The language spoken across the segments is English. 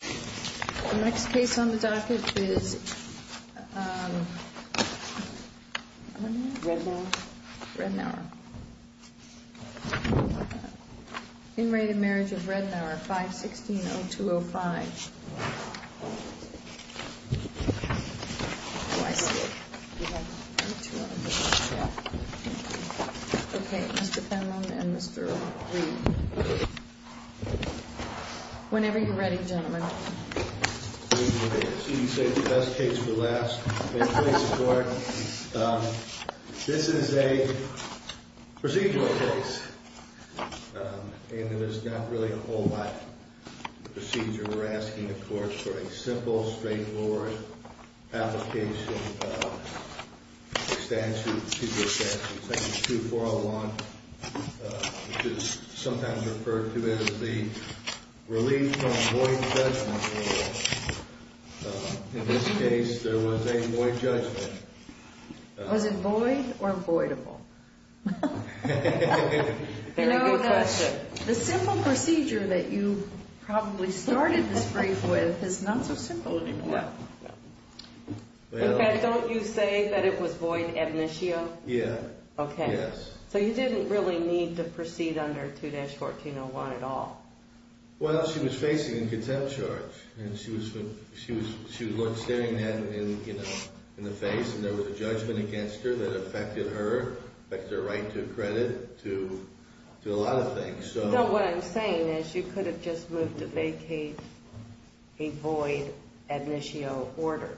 The next case on the docket is um Rednour. Rednour. In re Marriage of Rednour, 516-0205. Oh, I see it. Okay, Mr. Penlon and Mr. Reed. Whenever you're ready, gentlemen. Okay, so you saved the best case for last. Thank you for your support. Um, this is a procedural case. Um, and there's not really a whole lot of procedure. We're asking the courts for a simple, straightforward application of a statute. That's 2401, which is sometimes referred to as the Relief from Void Judgment Rule. In this case, there was a void judgment. Was it void or voidable? Very good question. You know, the simple procedure that you probably started this brief with is not so simple anymore. Okay, don't you say that it was void ab initio? Yeah. Okay. Yes. So you didn't really need to proceed under 2-1401 at all? Well, she was facing a contempt charge. And she was staring at it in the face. And there was a judgment against her that affected her. Affected her right to credit. To a lot of things. No, what I'm saying is you could have just moved to vacate a void ab initio order.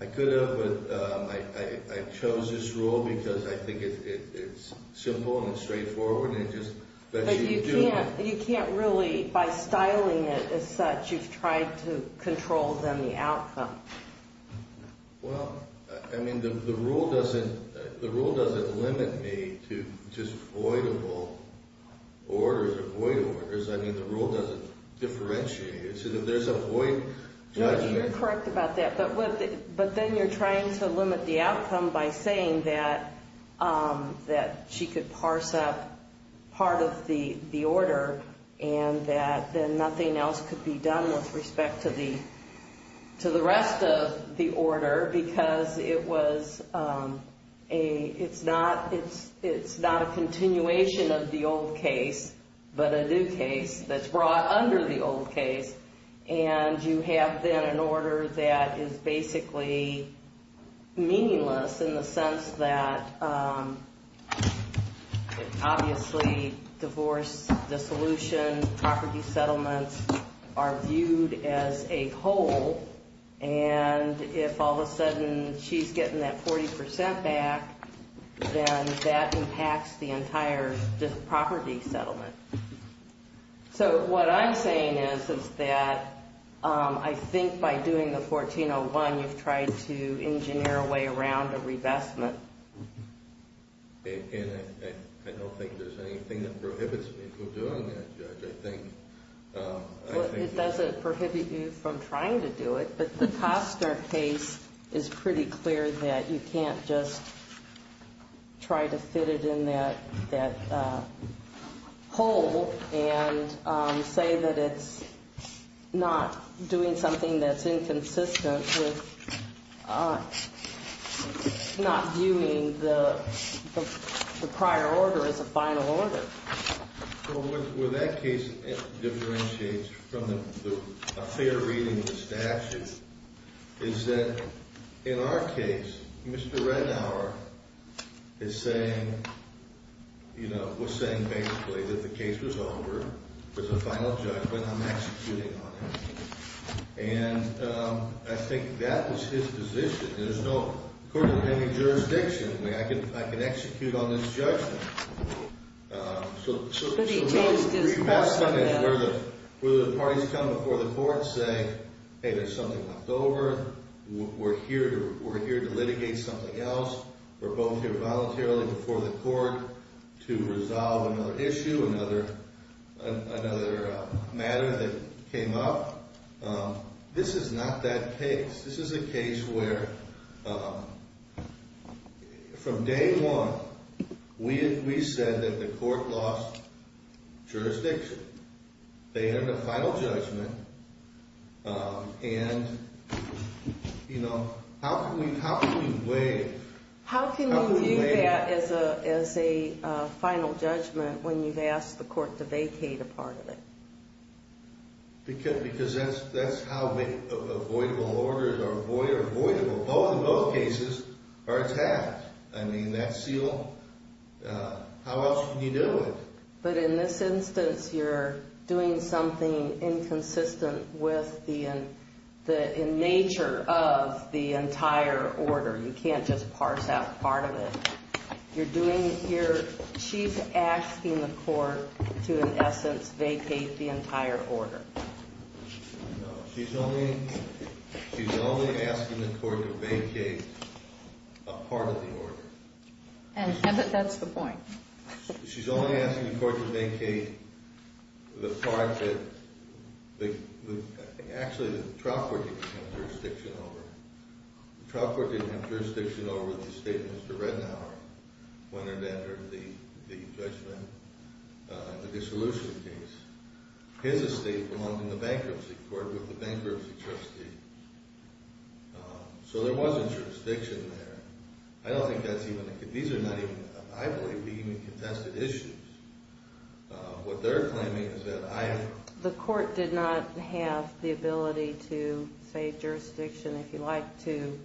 I could have, but I chose this rule because I think it's simple and straightforward. But you can't really, by styling it as such, you've tried to control then the outcome. Well, I mean, the rule doesn't limit me to just voidable orders or void orders. I mean, the rule doesn't differentiate. There's a void judgment. No, you're correct about that. But then you're trying to limit the outcome by saying that she could parse up part of the order. And that then nothing else could be done with respect to the rest of the order. Because it's not a continuation of the old case, but a new case that's brought under the old case. And you have then an order that is basically meaningless in the sense that obviously divorce, dissolution, property settlements are viewed as a whole. And if all of a sudden she's getting that 40% back, then that impacts the entire property settlement. So what I'm saying is, is that I think by doing the 1401, you've tried to engineer a way around a revestment. And I don't think there's anything that prohibits me from doing that, Judge. Well, it doesn't prohibit you from trying to do it. But the Costner case is pretty clear that you can't just try to fit it in that hole and say that it's not doing something that's inconsistent with not viewing the prior order as a final order. Well, where that case differentiates from a fair reading of the statute is that in our case, Mr. Renauer is saying, you know, was saying basically that the case was over. It was a final judgment. I'm executing on it. And I think that was his position. According to any jurisdiction, I can execute on this judgment. But he changed his position. Where the parties come before the court and say, hey, there's something left over. We're here to litigate something else. We're both here voluntarily before the court to resolve another issue, another matter that came up. This is not that case. This is a case where from day one, we said that the court lost jurisdiction. They had a final judgment. And, you know, how can we weigh... How can you do that as a final judgment when you've asked the court to vacate a part of it? Because that's how avoidable orders are avoidable. Both in both cases are attacked. I mean, that seal, how else can you do it? But in this instance, you're doing something inconsistent with the nature of the entire order. You can't just parse out part of it. You're doing it here. She's asking the court to, in essence, vacate the entire order. No, she's only asking the court to vacate a part of the order. And that's the point. She's only asking the court to vacate the part that... Actually, the trial court didn't have jurisdiction over. Mr. Redenauer went in after the judgment, the dissolution case. His estate belonged in the bankruptcy court with the bankruptcy trustee. So there wasn't jurisdiction there. I don't think that's even... These are not even... I believe we even contested issues. What they're claiming is that I... The court did not have the ability to say jurisdiction if you like to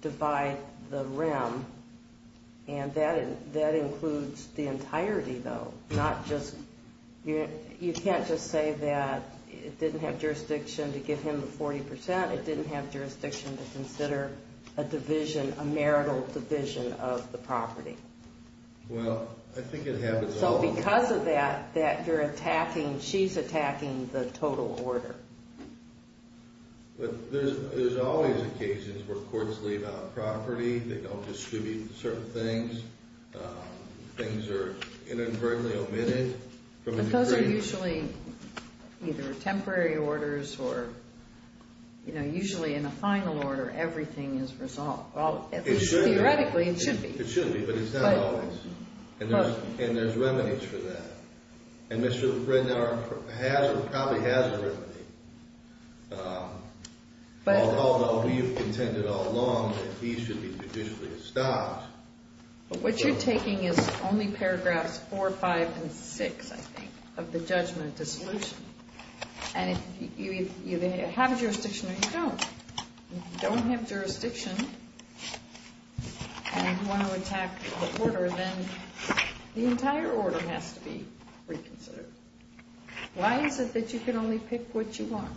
divide the realm. And that includes the entirety, though, not just... You can't just say that it didn't have jurisdiction to give him the 40%. It didn't have jurisdiction to consider a division, a marital division of the property. So because of that, that you're attacking... She's attacking the total order. But there's always occasions where courts leave out property. They don't distribute certain things. Things are inadvertently omitted. But those are usually either temporary orders or usually in a final order, everything is resolved. Well, at least theoretically, it should be. It should be, but it's not always. And there's remedies for that. And Mr. Rednard probably has a remedy. Although we've contended all along that he should be judicially established. But what you're taking is only paragraphs 4, 5, and 6, I think, of the judgment dissolution. And you either have jurisdiction or you don't. If you don't have jurisdiction and you want to attack the order, then the entire order has to be reconsidered. Why is it that you can only pick what you want?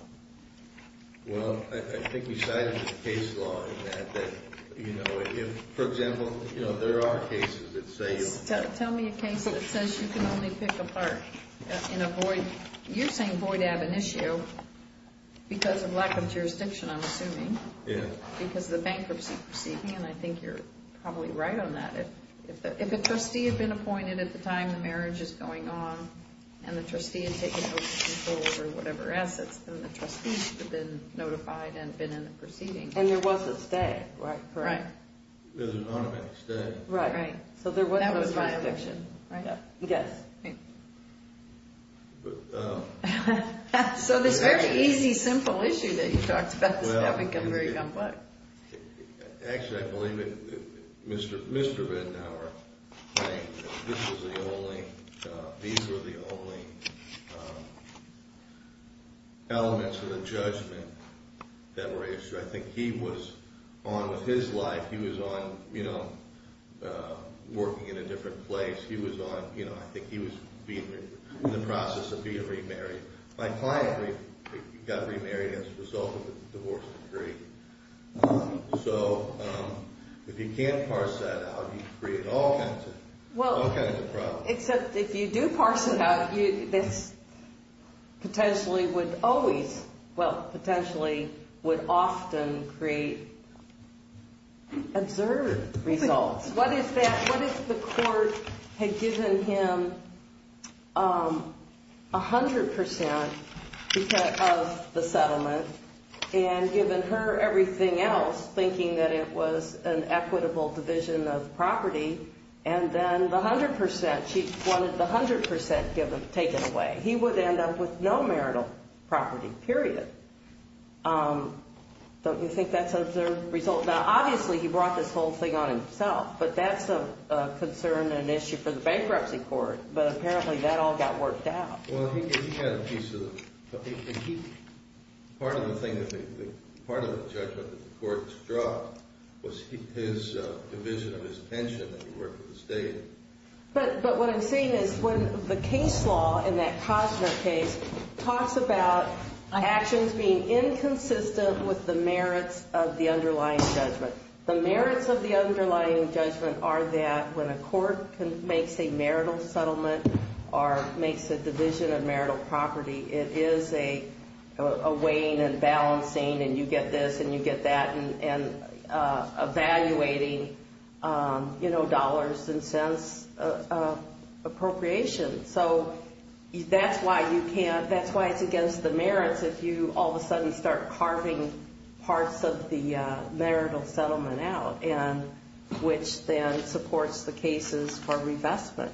Well, I think we cited the case law in that, that, you know, if, for example, you know, there are cases that say... Tell me a case that says you can only pick a part in a void... Because of lack of jurisdiction, I'm assuming. Yeah. Because of the bankruptcy proceeding, and I think you're probably right on that. If a trustee had been appointed at the time the marriage is going on, and the trustee had taken over control over whatever assets, then the trustee should have been notified and been in the proceeding. And there was a stay, right? Right. There's an automatic stay. Right, right. So there was no jurisdiction, right? Yes. But... So this very easy, simple issue that you talked about has now become very complex. Actually, I believe that Mr. Benauer claimed that this was the only... These were the only elements of the judgment that were issued. I think he was on with his life. He was on, you know, working in a different place. He was on, you know, I think he was in the process of being remarried. My client got remarried as a result of a divorce decree. So if you can't parse that out, you create all kinds of problems. Well, except if you do parse it out, this potentially would always, well, potentially would often create absurd results. What if the court had given him 100% of the settlement and given her everything else, thinking that it was an equitable division of property, and then the 100%, she wanted the 100% taken away. He would end up with no marital property, period. Don't you think that's an absurd result? Now, obviously he brought this whole thing on himself, but that's a concern and an issue for the bankruptcy court. But apparently that all got worked out. Well, he had a piece of the... Part of the judgment that the courts dropped was his division of his pension that he worked with the state. But what I'm saying is when the case law in that Cosner case talks about actions being inconsistent with the merits of the underlying judgment, the merits of the underlying judgment are that when a court makes a marital settlement or makes a division of marital property, it is a weighing and balancing, and you get this and you get that, and evaluating dollars and cents appropriation. So that's why you can't... That's why it's against the merits if you all of a sudden start carving parts of the marital settlement out, which then supports the cases for revestment.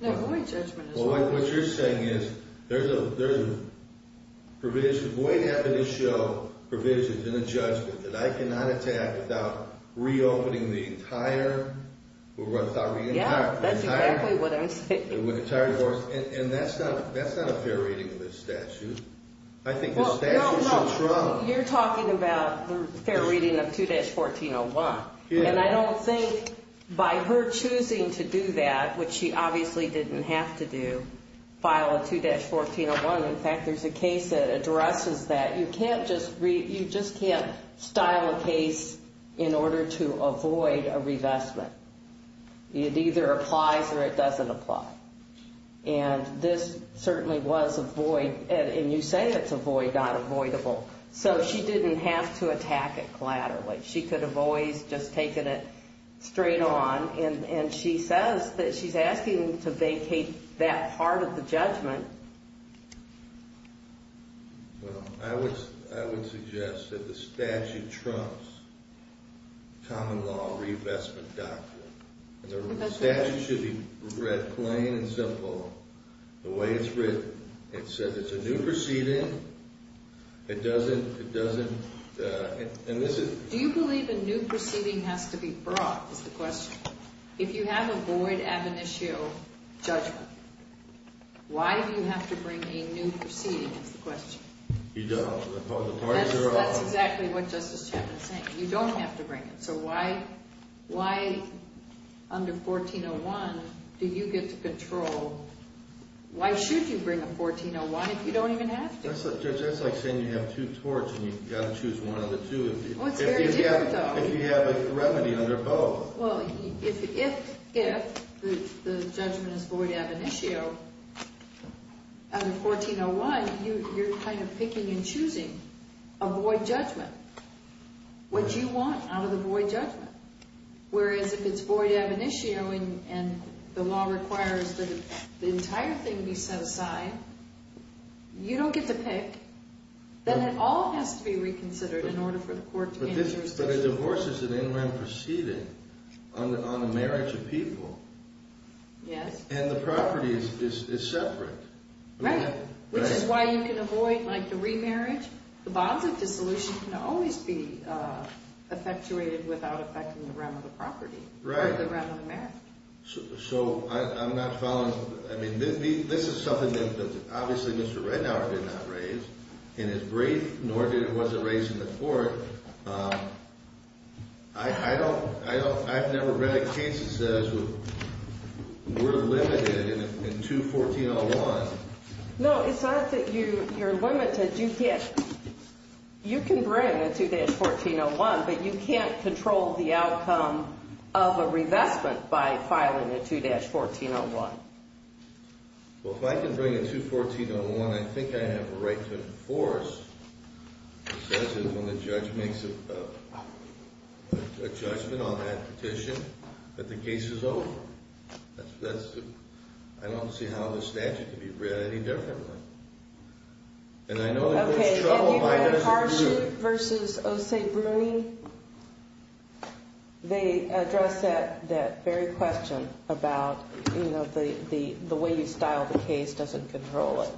Now, Boyd's judgment is... What you're saying is there's a provision. Boyd happened to show provisions in a judgment that I cannot attack without reopening the entire... We're going to stop reading? Yeah. That's exactly what I'm saying. And that's not a fair reading of his statute. I think his statute shows trauma. You're talking about the fair reading of 2-1401, and I don't think by her choosing to do that, which she obviously didn't have to do, file a 2-1401. In fact, there's a case that addresses that. You can't just read... You just can't style a case in order to avoid a revestment. It either applies or it doesn't apply. And this certainly was a void. And you say it's a void, not avoidable. So she didn't have to attack it collaterally. She could have always just taken it straight on. And she says that she's asking to vacate that part of the judgment. Well, I would suggest that the statute trumps common law revestment doctrine. The statute should be read plain and simple. The way it's written, it says it's a new proceeding. It doesn't... Do you believe a new proceeding has to be brought, is the question. If you have a void ad venitio judgment, why do you have to bring a new proceeding, is the question. You don't. That's exactly what Justice Chapman is saying. You don't have to bring it. So why under 1401 do you get to control? Why should you bring a 1401 if you don't even have to? That's like saying you have two torts and you've got to choose one of the two. Well, it's very different, though. If you have a remedy under both. Well, if the judgment is void ad venitio under 1401, you're kind of picking and choosing a void judgment. What do you want out of the void judgment? Whereas if it's void ad venitio and the law requires that the entire thing be set aside, you don't get to pick, then it all has to be reconsidered in order for the court to gain jurisdiction. But a divorce is an interim proceeding on a marriage of people. Yes. And the property is separate. Right, which is why you can avoid, like, the remarriage. The bonds of dissolution can always be effectuated without affecting the realm of the property. Right. Or the realm of the marriage. So I'm not following. I mean, this is something that obviously Mr. Reddauer did not raise in his brief, nor was it raised in the court. I've never read a case that says we're limited in 21401. No, it's not that you're limited. You can bring a 2-1401, but you can't control the outcome of a revestment by filing a 2-1401. Well, if I can bring a 2-1401, I think I have a right to enforce. It says that when the judge makes a judgment on that petition that the case is over. I don't see how the statute can be read any differently. And I know that there's trouble. If you read Harship v. Osei-Bruni, they address that very question about, you know, the way you style the case doesn't control it.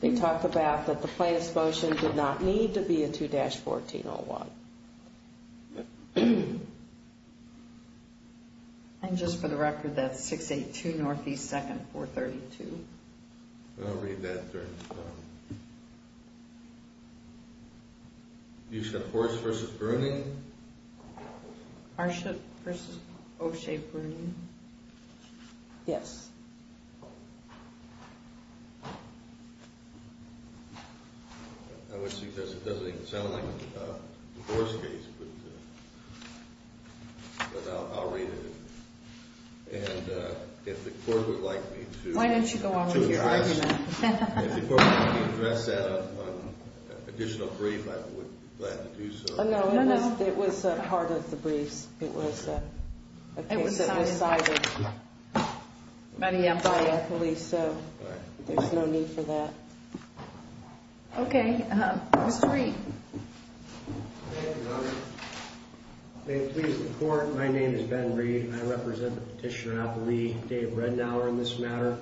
They talk about that the plaintiff's motion did not need to be a 2-1401. And just for the record, that's 682 NE 2nd 432. I'll read that. You said Horse v. Bruni? Harship v. Osei-Bruni. Yes. I wish because it doesn't even sound like a Horse case, but I'll read it. And if the court would like me to address that on an additional brief, I would be glad to do so. No, no, no. It was part of the briefs. It was a case that was cited by a police, so there's no need for that. Okay. Mr. Reed. Thank you, Your Honor. May it please the Court, my name is Ben Reed. I represent Petitioner-at-the-Lee, Dave Rednauer, in this matter.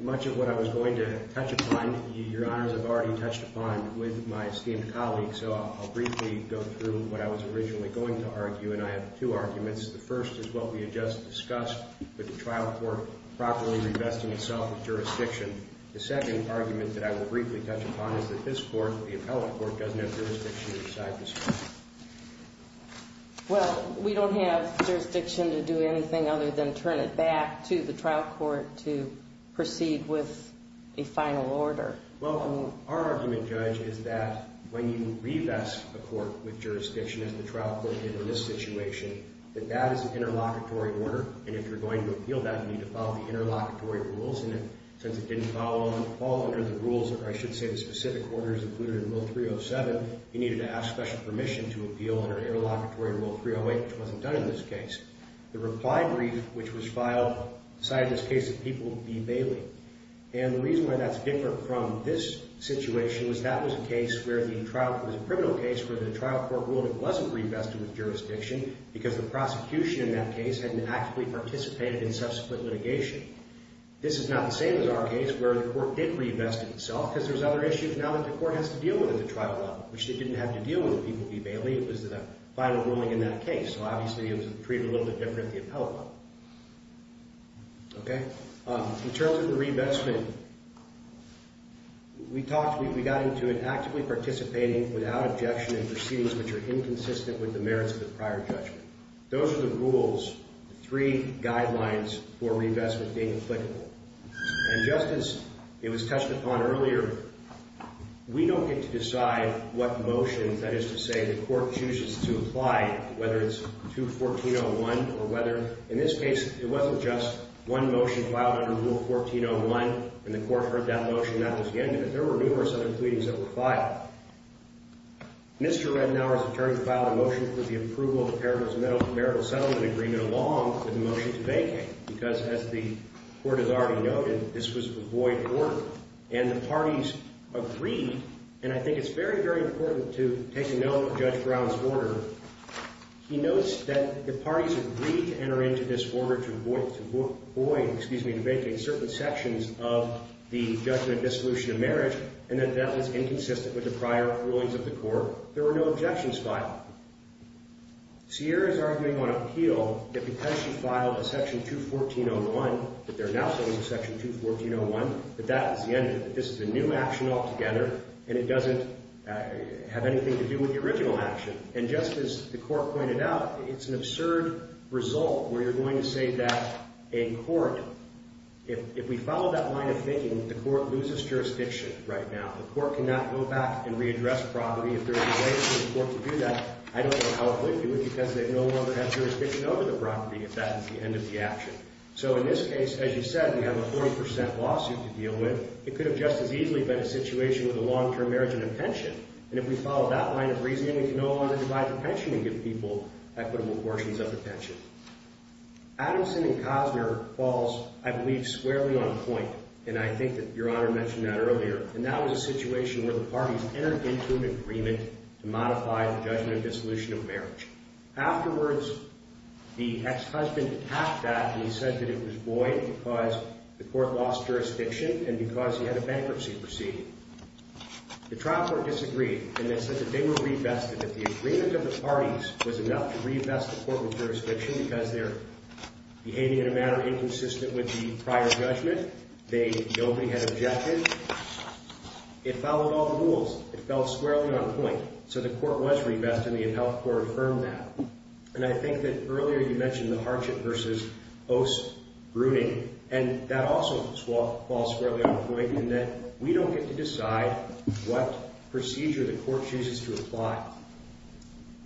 Much of what I was going to touch upon, Your Honors, I've already touched upon with my esteemed colleague, so I'll briefly go through what I was originally going to argue, and I have two arguments. The first is what we had just discussed with the trial court properly revesting itself of jurisdiction. The second argument that I will briefly touch upon is that this court, the appellate court, doesn't have jurisdiction inside this court. Well, we don't have jurisdiction to do anything other than turn it back to the trial court to proceed with a final order. Well, our argument, Judge, is that when you revest a court with jurisdiction, as the trial court did in this situation, that that is an interlocutory order, and if you're going to appeal that, you need to follow the interlocutory rules in it. If you didn't follow all under the rules, or I should say the specific orders included in Rule 307, you needed to ask special permission to appeal under interlocutory Rule 308, which wasn't done in this case. The reply brief, which was filed, decided in this case that people would be bailing. And the reason why that's different from this situation was that was a case where the trial, it was a criminal case where the trial court ruled it wasn't revested with jurisdiction because the prosecution in that case hadn't actively participated in subsequent litigation. This is not the same as our case where the court did revest itself because there's other issues now that the court has to deal with at the trial level, which they didn't have to deal with. People would be bailing. It was the final ruling in that case, so obviously it was treated a little bit differently at the appellate level. Okay? In terms of the revestment, we talked, we got into it actively participating without objection in proceedings which are inconsistent with the merits of the prior judgment. Those are the rules, the three guidelines for revestment being applicable. And just as it was touched upon earlier, we don't get to decide what motions, that is to say, the court chooses to apply, whether it's 214.01 or whether, in this case, it wasn't just one motion filed under Rule 1401 and the court heard that motion and that was the end of it. Mr. Redenauer's attorney filed a motion for the approval of the Paragraphs of Marital Settlement Agreement along with a motion to vacate because, as the court has already noted, this was a void order. And the parties agreed, and I think it's very, very important to take note of Judge Brown's order. He notes that the parties agreed to enter into this order to void, excuse me, to vacate certain sections of the judgment of dissolution of marriage and that that was inconsistent with the prior rulings of the court. There were no objections filed. Sierra is arguing on appeal that because she filed a Section 214.01, that they're now saying Section 214.01, that that is the end of it, that this is a new action altogether and it doesn't have anything to do with the original action. And just as the court pointed out, it's an absurd result where you're going to say that a court, If we follow that line of thinking, the court loses jurisdiction right now. The court cannot go back and readdress property if there is a way for the court to do that. I don't know how it would do it because they no longer have jurisdiction over the property if that is the end of the action. So in this case, as you said, we have a 40% lawsuit to deal with. It could have just as easily been a situation with a long-term marriage and a pension. And if we follow that line of reasoning, we can no longer divide the pension and give people equitable portions of the pension. Adamson and Cosner falls, I believe, squarely on point. And I think that Your Honor mentioned that earlier. And that was a situation where the parties entered into an agreement to modify the judgment of dissolution of marriage. Afterwards, the ex-husband attacked that and he said that it was void because the court lost jurisdiction and because he had a bankruptcy proceeding. The trial court disagreed and they said that they were re-vested. That the agreement of the parties was enough to re-vest the court with jurisdiction because they're behaving in a manner inconsistent with the prior judgment. Nobody had objected. It followed all the rules. It fell squarely on point. So the court was re-vested and the adult court affirmed that. And I think that earlier you mentioned the hardship versus os bruning. And that also falls squarely on point in that we don't get to decide what procedure the court chooses to apply.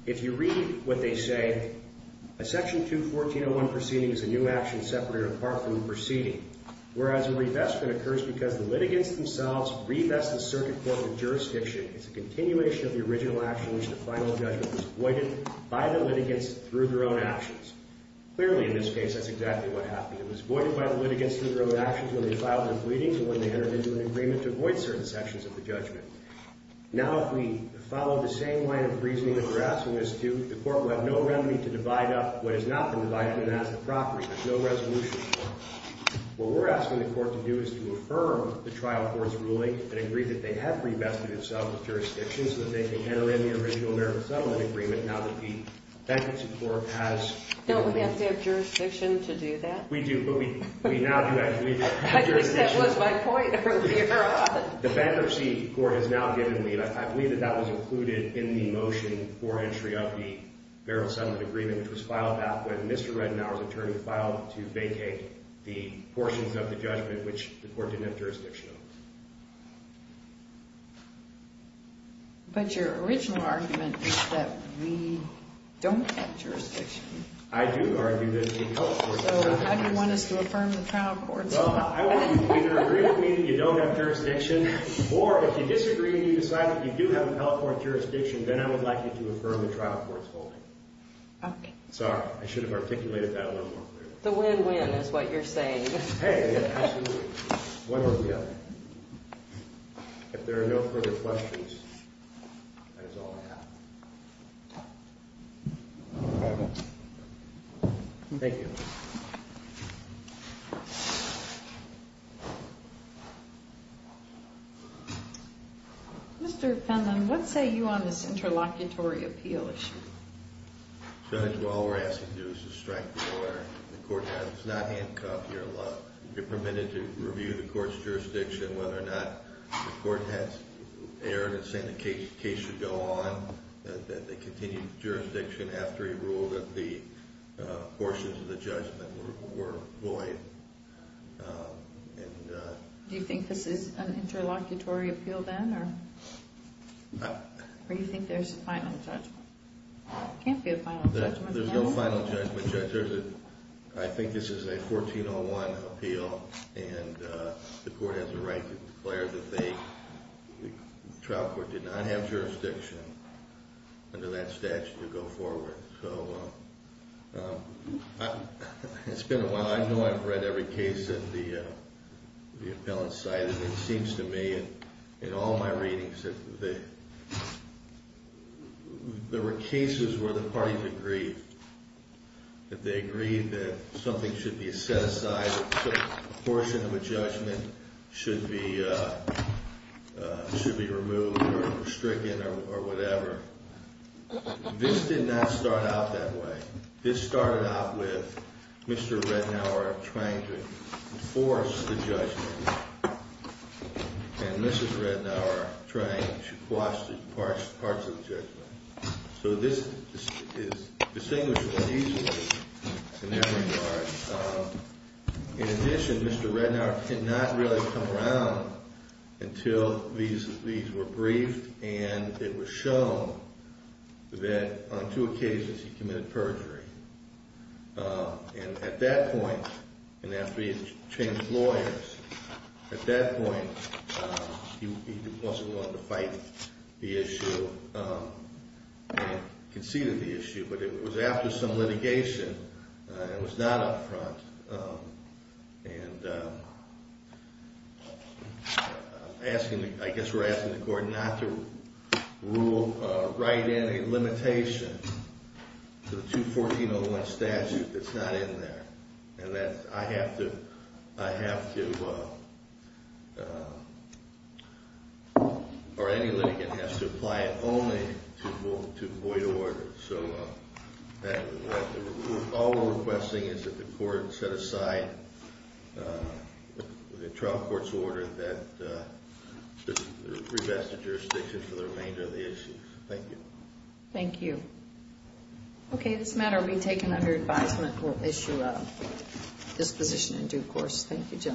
If you read what they say, a section 2-1401 proceeding is a new action separated apart from the proceeding. Whereas a re-vestment occurs because the litigants themselves re-vest the circuit court with jurisdiction. It's a continuation of the original action in which the final judgment was avoided by the litigants through their own actions. Clearly, in this case, that's exactly what happened. It was avoided by the litigants through their own actions when they filed their pleadings and when they entered into an agreement to avoid certain sections of the judgment. Now, if we follow the same line of reasoning that we're asking this to, the court will have no remedy to divide up what has not been divided up as a property. There's no resolution for it. What we're asking the court to do is to affirm the trial court's ruling and agree that they have re-vested themselves with jurisdiction so that they can enter in the original burial settlement agreement now that the bankruptcy court has— Don't we have to have jurisdiction to do that? We do, but we now do have jurisdiction. I guess that was my point earlier on. The bankruptcy court has now given leave. I believe that that was included in the motion for entry of the burial settlement agreement, which was filed back when Mr. Reddenauer's attorney filed to vacate the portions of the judgment which the court didn't have jurisdiction over. But your original argument is that we don't have jurisdiction. I do argue that the trial court— So how do you want us to affirm the trial court's law? I want you to either agree with me that you don't have jurisdiction, or if you disagree and you decide that you do have a California jurisdiction, then I would like you to affirm the trial court's ruling. Okay. Sorry, I should have articulated that a little more clearly. The win-win is what you're saying. Hey, absolutely. One or the other. If there are no further questions, that is all I have. Thank you. Thank you. Mr. Penland, what say you on this interlocutory appeal issue? Judge, all we're asking you to do is to strike the lawyer. The court has not handcuffed your lawyer. You're permitted to review the court's jurisdiction, whether or not the court has erred in saying the case should go on, that they continue the jurisdiction after he ruled that the portions of the judgment were void. Do you think this is an interlocutory appeal then, or do you think there's a final judgment? There can't be a final judgment. There's no final judgment, Judge. I think this is a 1401 appeal, and the court has a right to declare that the trial court did not have jurisdiction under that statute to go forward. It's been a while. I know I've read every case in the appellate side, and it seems to me in all my readings that there were cases where the parties agreed, that they agreed that something should be set aside, that a portion of a judgment should be removed or stricken or whatever. This did not start out that way. This started out with Mr. Redenauer trying to enforce the judgment, and Mrs. Redenauer trying to quash the parts of the judgment. So this is distinguishable easily in every regard. In addition, Mr. Redenauer did not really come around until these were briefed and it was shown that on two occasions he committed perjury. And at that point, and after he had changed lawyers, at that point he wasn't willing to fight the issue and conceded the issue. But it was after some litigation, it was not up front, and I guess we're asking the court not to write in a limitation to the 214-01 statute that's not in there. And that I have to, or any litigant has to apply it only to void orders. So all we're requesting is that the court set aside, the trial court's order, that we revest the jurisdiction for the remainder of the issue. Thank you. Thank you. Okay, this matter will be taken under advisement. We'll issue a disposition in due course. Thank you, gentlemen.